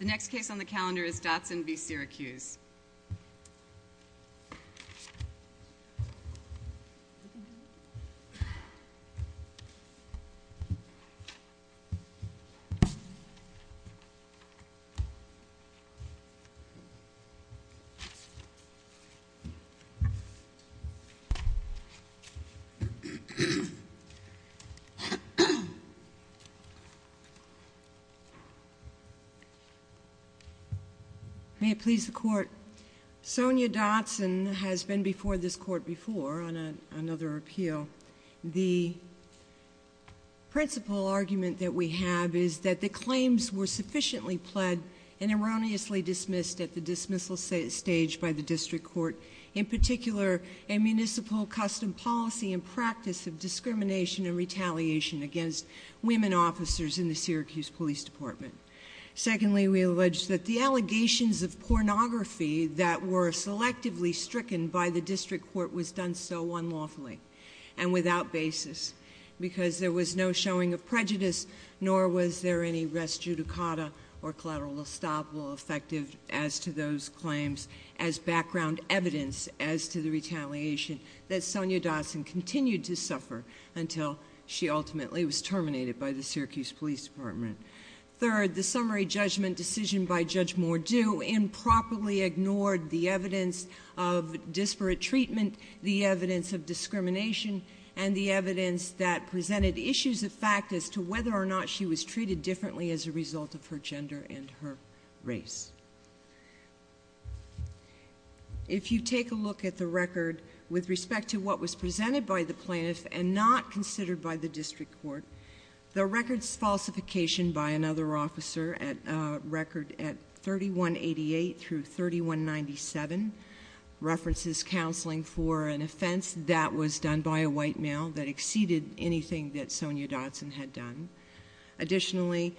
The next case on the calendar is Dotson v. Syracuse. May it please the court. Sonia Dotson has been before this court before on another appeal. The principal argument that we have is that the claims were sufficiently pled and erroneously dismissed at the dismissal stage by the district court, in particular a municipal custom policy and practice of discrimination and retaliation against women officers in the Syracuse Police Department. Secondly, we allege that the allegations of pornography that were selectively stricken by the district court was done so unlawfully and without basis because there was no showing of prejudice, nor was there any res judicata or collateral estoppel effective as to those claims as background evidence as to the retaliation that Sonia Dotson continued to suffer until she ultimately was terminated by the Syracuse Police Department. Third, the summary judgment decision by Judge Mordew improperly ignored the evidence of disparate treatment, the evidence of discrimination, and the evidence that presented issues of fact as to whether or not she was treated differently as a result of her gender and her race. If you take a look at the record with respect to what was presented by the plaintiff and not considered by the district court, the record's falsification by another officer at record at 3188 through 3197 references counseling for an offense that was done by a white male that exceeded anything that Sonia Dotson had done. Additionally,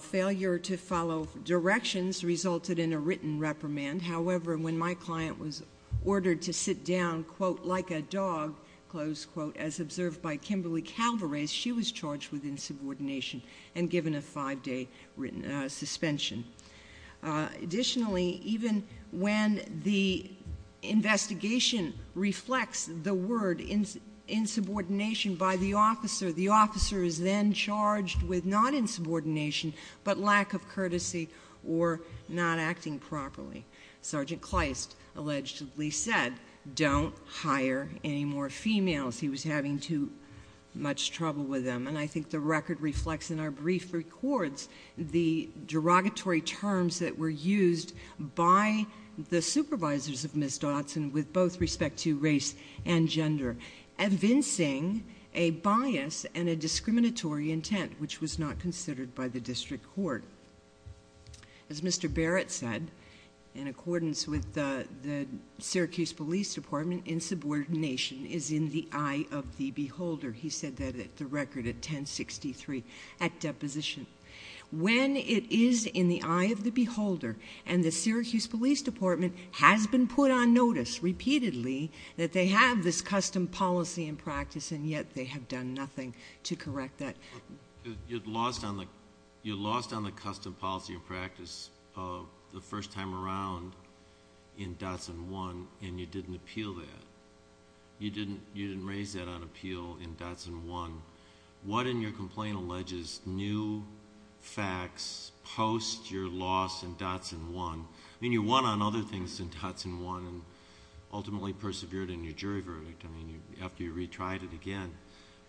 failure to follow directions resulted in a written reprimand. However, when my client was ordered to sit down, quote, like a dog, close quote, as observed by Kimberly Calvarez, she was charged with insubordination and given a five-day written suspension. Additionally, even when the investigation reflects the word insubordination by the officer, the officer is then charged with not insubordination, but lack of courtesy or not acting properly. Sergeant Kleist allegedly said, don't hire any more females. He was having too much trouble with them. And I think the record reflects in our brief records the derogatory terms that were used by the supervisors of Ms. Dotson with both respect to race and gender, evincing a bias and a discriminatory intent which was not considered by the district court. As Mr. Barrett said, in accordance with the Syracuse Police Department, insubordination is in the eye of the beholder. He said that at the record at 1063 at deposition. When it is in the eye of the beholder and the Syracuse Police Department has been put on notice repeatedly that they have this custom policy and practice and yet they have done nothing to correct that. You lost on the custom policy and practice the first time around in Dotson 1 and you didn't appeal that. You didn't raise that on appeal in Dotson 1. What in your complaint alleges new facts post your loss in Dotson 1? I mean you won on other things in Dotson 1 and ultimately persevered in your jury verdict after you retried it again.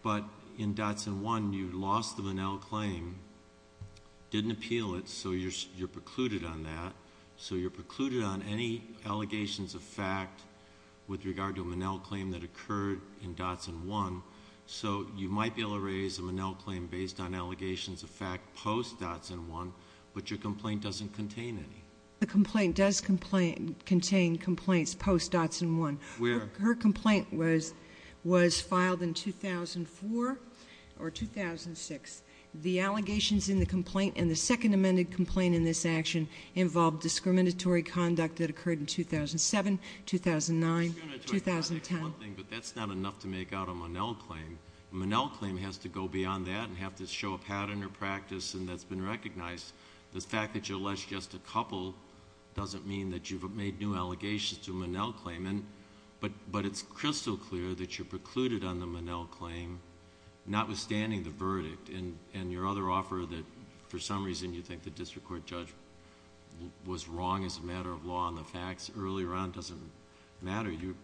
But in Dotson 1 you lost the Manel claim, didn't appeal it, so you're precluded on that. With regard to a Manel claim that occurred in Dotson 1, so you might be able to raise a Manel claim based on allegations of fact post Dotson 1 but your complaint doesn't contain any. The complaint does contain complaints post Dotson 1. Her complaint was filed in 2004 or 2006. The allegations in the complaint and the second amended complaint in this action involved discriminatory conduct that occurred in 2007, 2009, 2010. But that's not enough to make out a Manel claim. A Manel claim has to go beyond that and have to show a pattern or practice that's been recognized. The fact that you lost just a couple doesn't mean that you've made new allegations to a Manel claim but it's crystal clear that you're precluded on the Manel claim, notwithstanding the verdict and your other offer that for some reason you think the district court judge was wrong as a matter of law on the facts earlier on doesn't matter. You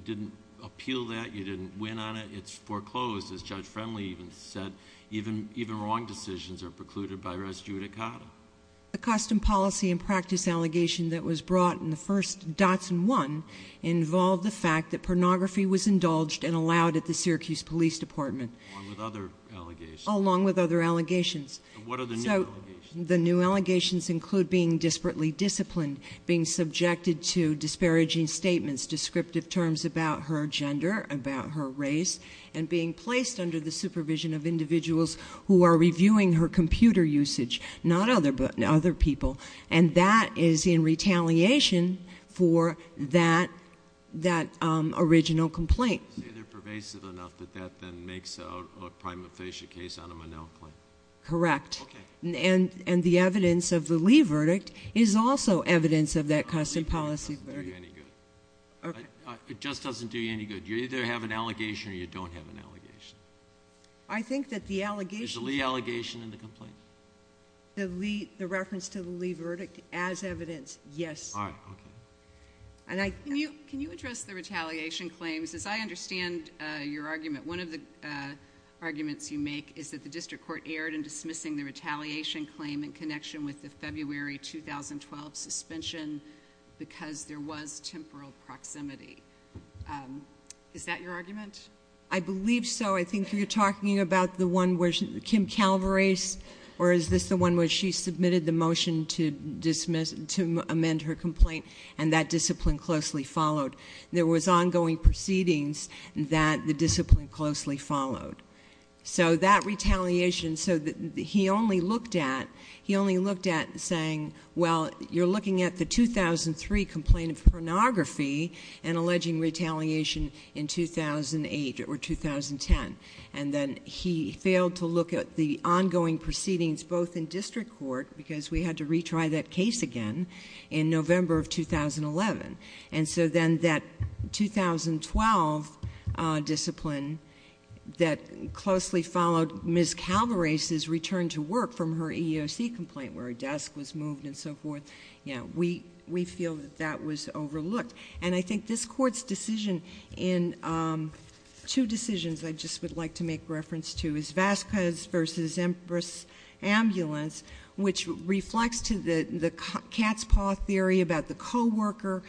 didn't appeal that. You didn't win on it. It's foreclosed. As Judge Friendly even said, even wrong decisions are precluded by res judicata. The custom policy and practice allegation that was brought in the first Dotson 1 involved the fact that pornography was indulged and allowed at the Syracuse Police Department. Along with other allegations. The new allegations include being disparately disciplined, being subjected to disparaging statements, descriptive terms about her gender, about her race, and being placed under the supervision of individuals who are reviewing her computer usage. Not other people. And that is in retaliation for that original complaint. Say they're pervasive enough that that then makes a prima facie case on a Manel claim. Correct. And the evidence of the Lee verdict is also evidence of that custom policy. It just doesn't do you any good. You either have an allegation or you don't have an allegation. Is the Lee allegation in the complaint? The reference to the Lee verdict as evidence, yes. Can you address the retaliation claims? As I understand your argument, one of the arguments you make is that the district court erred in dismissing the retaliation claim in connection with the February 2012 suspension because there was temporal proximity. Is that your argument? I believe so. I think you're talking about the one where Kim Calvary, or is this the one where she submitted the motion to amend her complaint and that discipline closely followed. There was ongoing proceedings that the discipline closely followed. So that retaliation, he only looked at saying, well, you're looking at the 2003 complaint of pornography and alleging retaliation in 2008 or 2010. And then he failed to look at the ongoing proceedings both in district court, because we had to retry that case again in November of 2011. And so then that 2012 discipline that closely followed Ms. Calvary's return to work from her EEOC complaint where her desk was moved and so forth, we feel that that was overlooked. And I think this court's decision in two decisions I just would like to make reference to is Vasquez v. Ambulance, which reflects to the cat's paw theory about the co-worker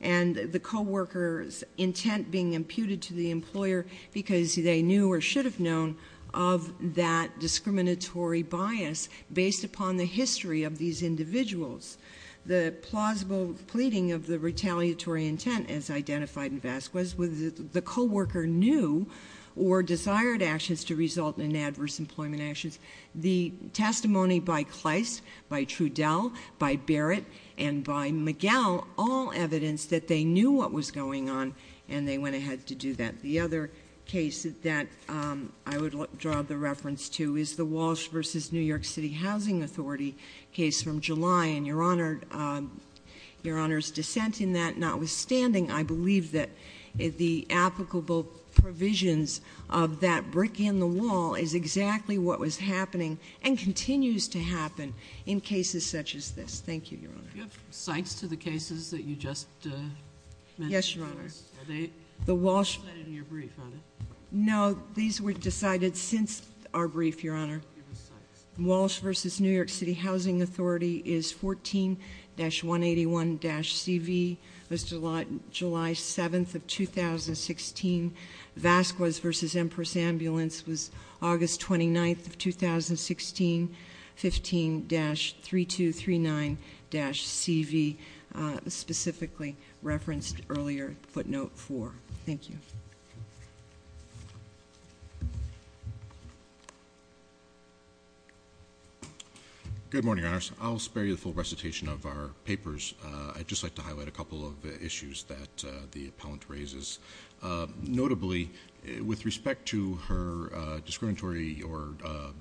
and the co-worker's intent being imputed to the employer because they knew or should have known of that discriminatory bias based upon the history of these individuals. The plausible pleading of the retaliatory intent as identified in Vasquez was the co-worker knew or desired actions to result in adverse employment actions. The testimony by Kleist, by Trudell, by Barrett, and by McGill, all evidence that they knew what was going on and they went ahead to do that. The other case that I would draw the reference to is the Walsh v. New York City Housing Authority case from July and, Your Honor, Your Honor's dissent in that notwithstanding, I believe that the applicable provisions of that brick in the wall is exactly what was happening and continues to happen in cases such as this. Thank you, Your Honor. Yes, Your Honor. No, these were decided since our brief, Your Honor. Walsh v. New York City Housing Authority is 14-181-CV, was July 7th of 2016. Vasquez v. Empress Ambulance was August 29th of 2016, 15-3239-CV, specifically referenced earlier footnote four. Thank you. Good morning, Your Honors. I'll spare you the full recitation of our papers. I'd just like to highlight a couple of issues that the appellant raises. Notably, with respect to her discriminatory or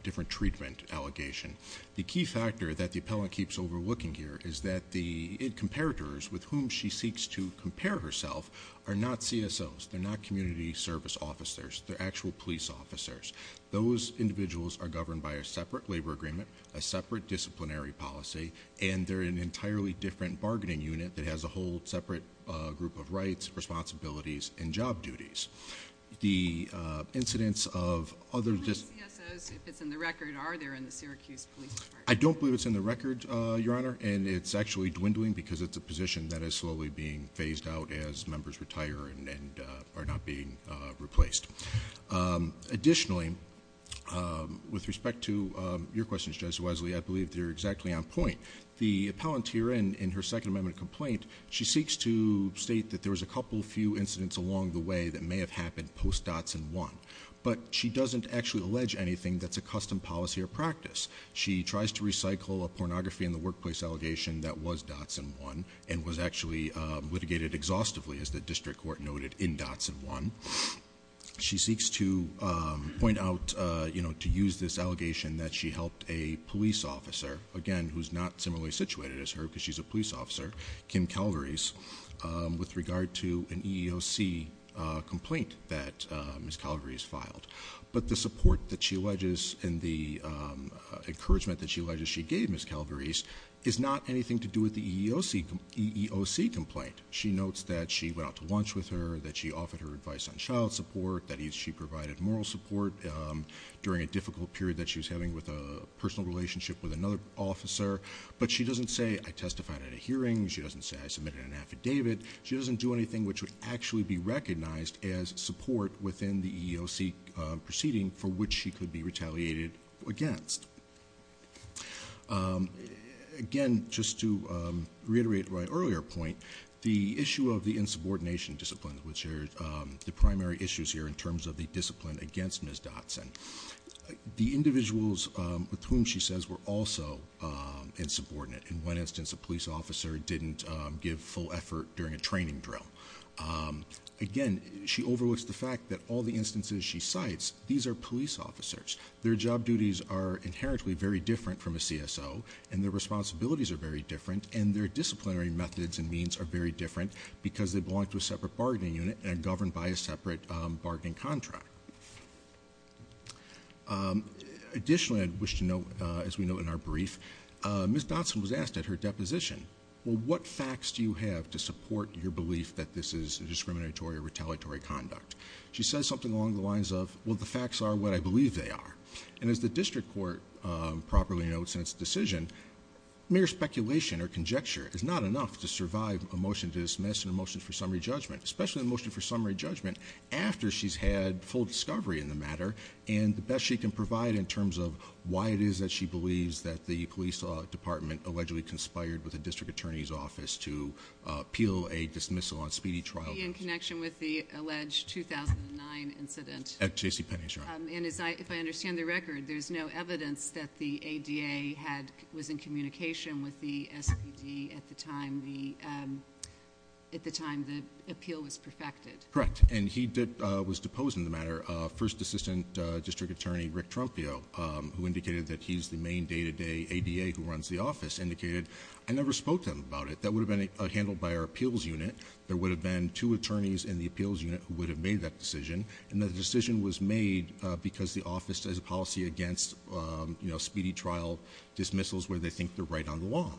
different treatment allegation, the key factor that the appellant keeps overlooking here is that the comparators with whom she seeks to compare herself are not CSOs. They're not community service officers. They're actual police officers. Those individuals are governed by a separate labor agreement, a separate disciplinary policy, and they're in an entirely different bargaining unit that has a whole separate group of rights, responsibilities, and job duties. How many CSOs, if it's in the record, are there in the Syracuse Police Department? I don't believe it's in the record, Your Honor, and it's actually dwindling because it's a position that is slowly being phased out as members retire and are not being replaced. Additionally, with respect to your questions, Judge Wesley, I believe they're exactly on point. The appellant here in her Second Amendment complaint, she seeks to state that there was a couple few incidents along the way that may have happened post-Dotson 1. But she doesn't actually allege anything that's a custom policy or practice. She tries to recycle a pornography in the workplace allegation that was Dotson 1 and was actually litigated exhaustively, as the district court noted, in Dotson 1. She seeks to point out, to use this allegation that she helped a police officer, again, who's not similarly situated as her because she's a police officer, Kim Calvary's, with regard to an EEOC complaint that Ms. Calvary's filed. But the support that she alleges and the encouragement that she alleges she gave Ms. Calvary's is not anything to do with the EEOC complaint. She notes that she went out to lunch with her, that she offered her advice on child support, that she provided moral support during a difficult period that she was having with a personal relationship with another officer. But she doesn't say, I testified at a hearing. She doesn't say, I submitted an affidavit. She doesn't do anything which would actually be recognized as support within the EEOC proceeding for which she could be retaliated against. Again, just to reiterate my earlier point, the issue of the insubordination disciplines, which are the primary issues here in terms of the discipline against Ms. Dotson. The individuals with whom she says were also insubordinate, in one instance a police officer didn't give full effort during a training drill. Again, she overlooks the fact that all the instances she cites, these are police officers. Their job duties are inherently very different from a CSO and their responsibilities are very different and their disciplinary methods and means are very different because they belong to a separate bargaining unit and governed by a separate bargaining contract. Additionally, I'd wish to note, as we know in our brief, Ms. Dotson was asked at her deposition, well, what facts do you have to provide? And she responded in the lines of, well, the facts are what I believe they are. And as the district court properly notes in its decision, mere speculation or conjecture is not enough to survive a motion to dismiss and a motion for summary judgment, especially a motion for summary judgment after she's had full discovery in the matter and the best she can provide in terms of why it is that she believes that the police department allegedly conspired with the district attorney's office to appeal a dismissal on speedy trial grounds. In connection with the alleged 2009 incident. At J.C. Penney's, right. And if I understand the record, there's no evidence that the ADA was in communication with the SPD at the time the appeal was perfected. Correct. And he was deposed in the matter. First assistant district attorney Rick and day to day ADA who runs the office indicated I never spoke to him about it. That would have been handled by our appeals unit. There would have been two attorneys in the appeals unit who would have made that decision. And the decision was made because the office has a policy against speedy trial dismissals where they think they're right on the law.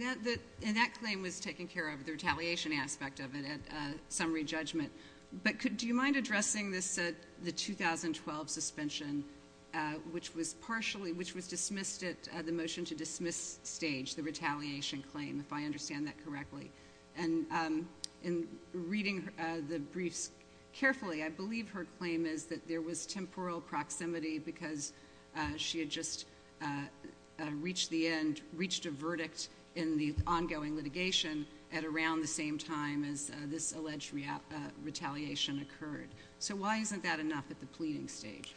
And that claim was taken care of, the retaliation aspect of it at summary judgment. But do you mind addressing the 2012 suspension, which was dismissed at the motion to dismiss stage, the retaliation claim, if I understand that correctly. And in reading the briefs carefully, I believe her claim is that there was temporal proximity because she had just reached the end, reached a verdict in the ongoing litigation at around the same time as this alleged retaliation occurred. So why isn't that enough at the pleading stage?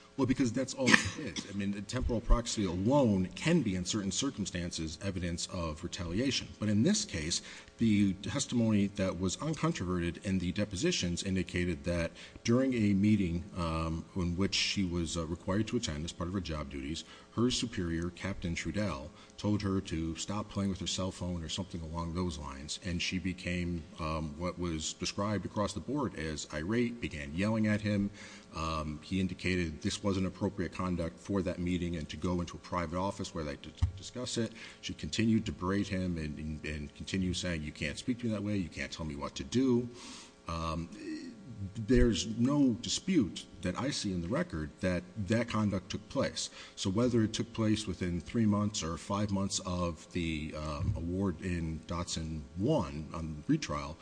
Temporal proxy alone can be in certain circumstances evidence of retaliation. But in this case, the testimony that was uncontroverted in the depositions indicated that during a meeting in which she was required to attend as part of her job duties, her superior, Captain Trudell, told her to stop playing with her cell phone or something along those lines. And she became what was described across the board as irate, began yelling at him. He indicated this wasn't appropriate conduct for that meeting and to go into a private office where they could discuss it. She continued to berate him and continue saying you can't speak to me that way, you can't tell me what to do. There's no dispute that I see in the record that that conduct took place. So whether it took place within three months or five months of the award in Dotson 1, on retrial,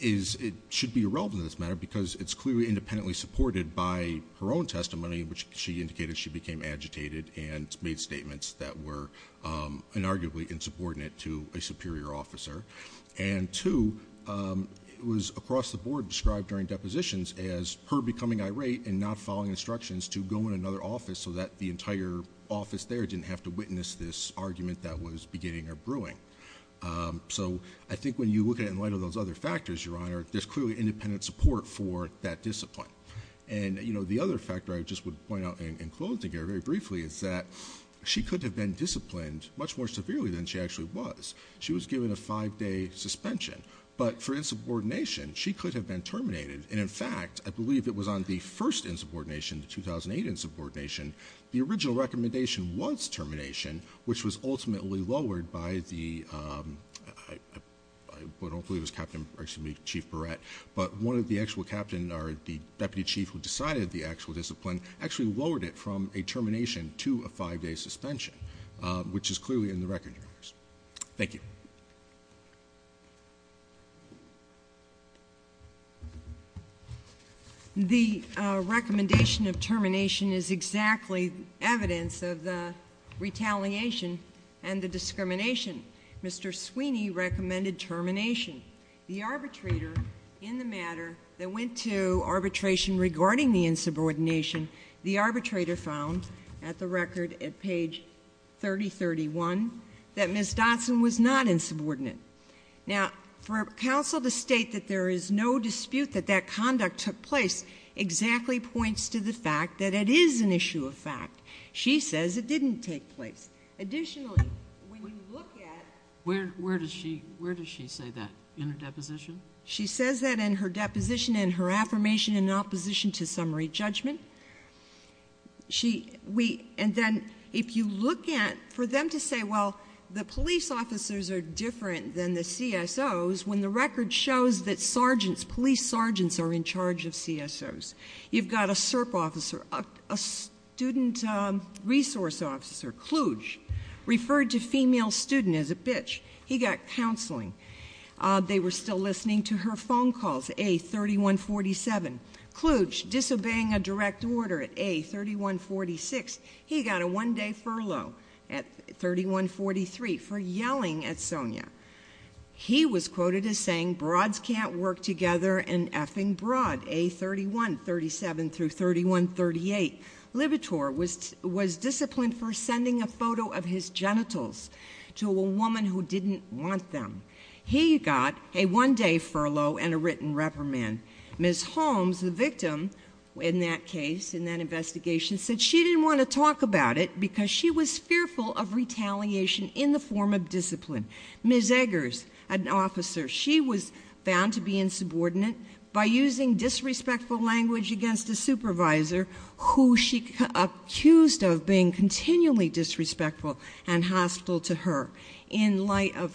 it should be irrelevant to this matter because it's clearly independently supported by her own testimony, which she indicated she became agitated and made statements that were inarguably insubordinate to a superior officer. And two, it was across the board described during depositions as her superior didn't have to witness this argument that was beginning or brewing. So I think when you look at it in light of those other factors, Your Honor, there's clearly independent support for that discipline. And the other factor I just would point out in closing here very briefly is that she could have been disciplined much more severely than she actually was. She was given a five-day suspension. But for insubordination, she could have been terminated. And in fact, I believe it was on the first insubordination, the 2008 insubordination, the original recommendation was termination, which was ultimately lowered by the, I don't believe it was Captain, excuse me, Chief Barrett, but one of the actual captain or the deputy chief who decided the actual discipline actually lowered it from a termination to a five-day suspension, which is clearly in the record, Your Honor. Thank you. The recommendation of termination is exactly evidence of the retaliation and the discrimination. Mr. Sweeney recommended termination. The arbitrator in the matter that went to arbitration regarding the insubordination, the arbitrator found at the record at page 3031 that Ms. Dotson was not insubordinate. Now, for counsel to state that there is no dispute that that conduct took place exactly points to the fact that it is an issue of fact. She says it didn't take place. Additionally, when you look at Where does she say that? In her deposition? She says that in her deposition and her affirmation in opposition to summary judgment. And then if you look at, for them to say, well, the police officers are different than the CSOs when the record shows that sergeants, police sergeants are in charge of CSOs. You've got a SERP officer, a student resource officer, Kluge, referred to female student as a bitch. He got counseling. They were still listening to her phone calls. A3147. Kluge, disobeying a direct order at A3146, he got a one day furlough at 3143 for yelling at Sonia. He was quoted as saying broads can't work together and effing broad. A3137 through 3138. Libitor was disciplined for sending a photo of his genitals to a woman who didn't want them. He got a one day furlough and a written reprimand. Ms. Holmes, the victim in that case, in that investigation, said she didn't want to talk about it because she was fearful of retaliation in the form of discipline. Ms. Eggers, an officer, she was found to be insubordinate by using disrespectful language against a supervisor who she accused of being continually disrespectful and hostile to her in light of her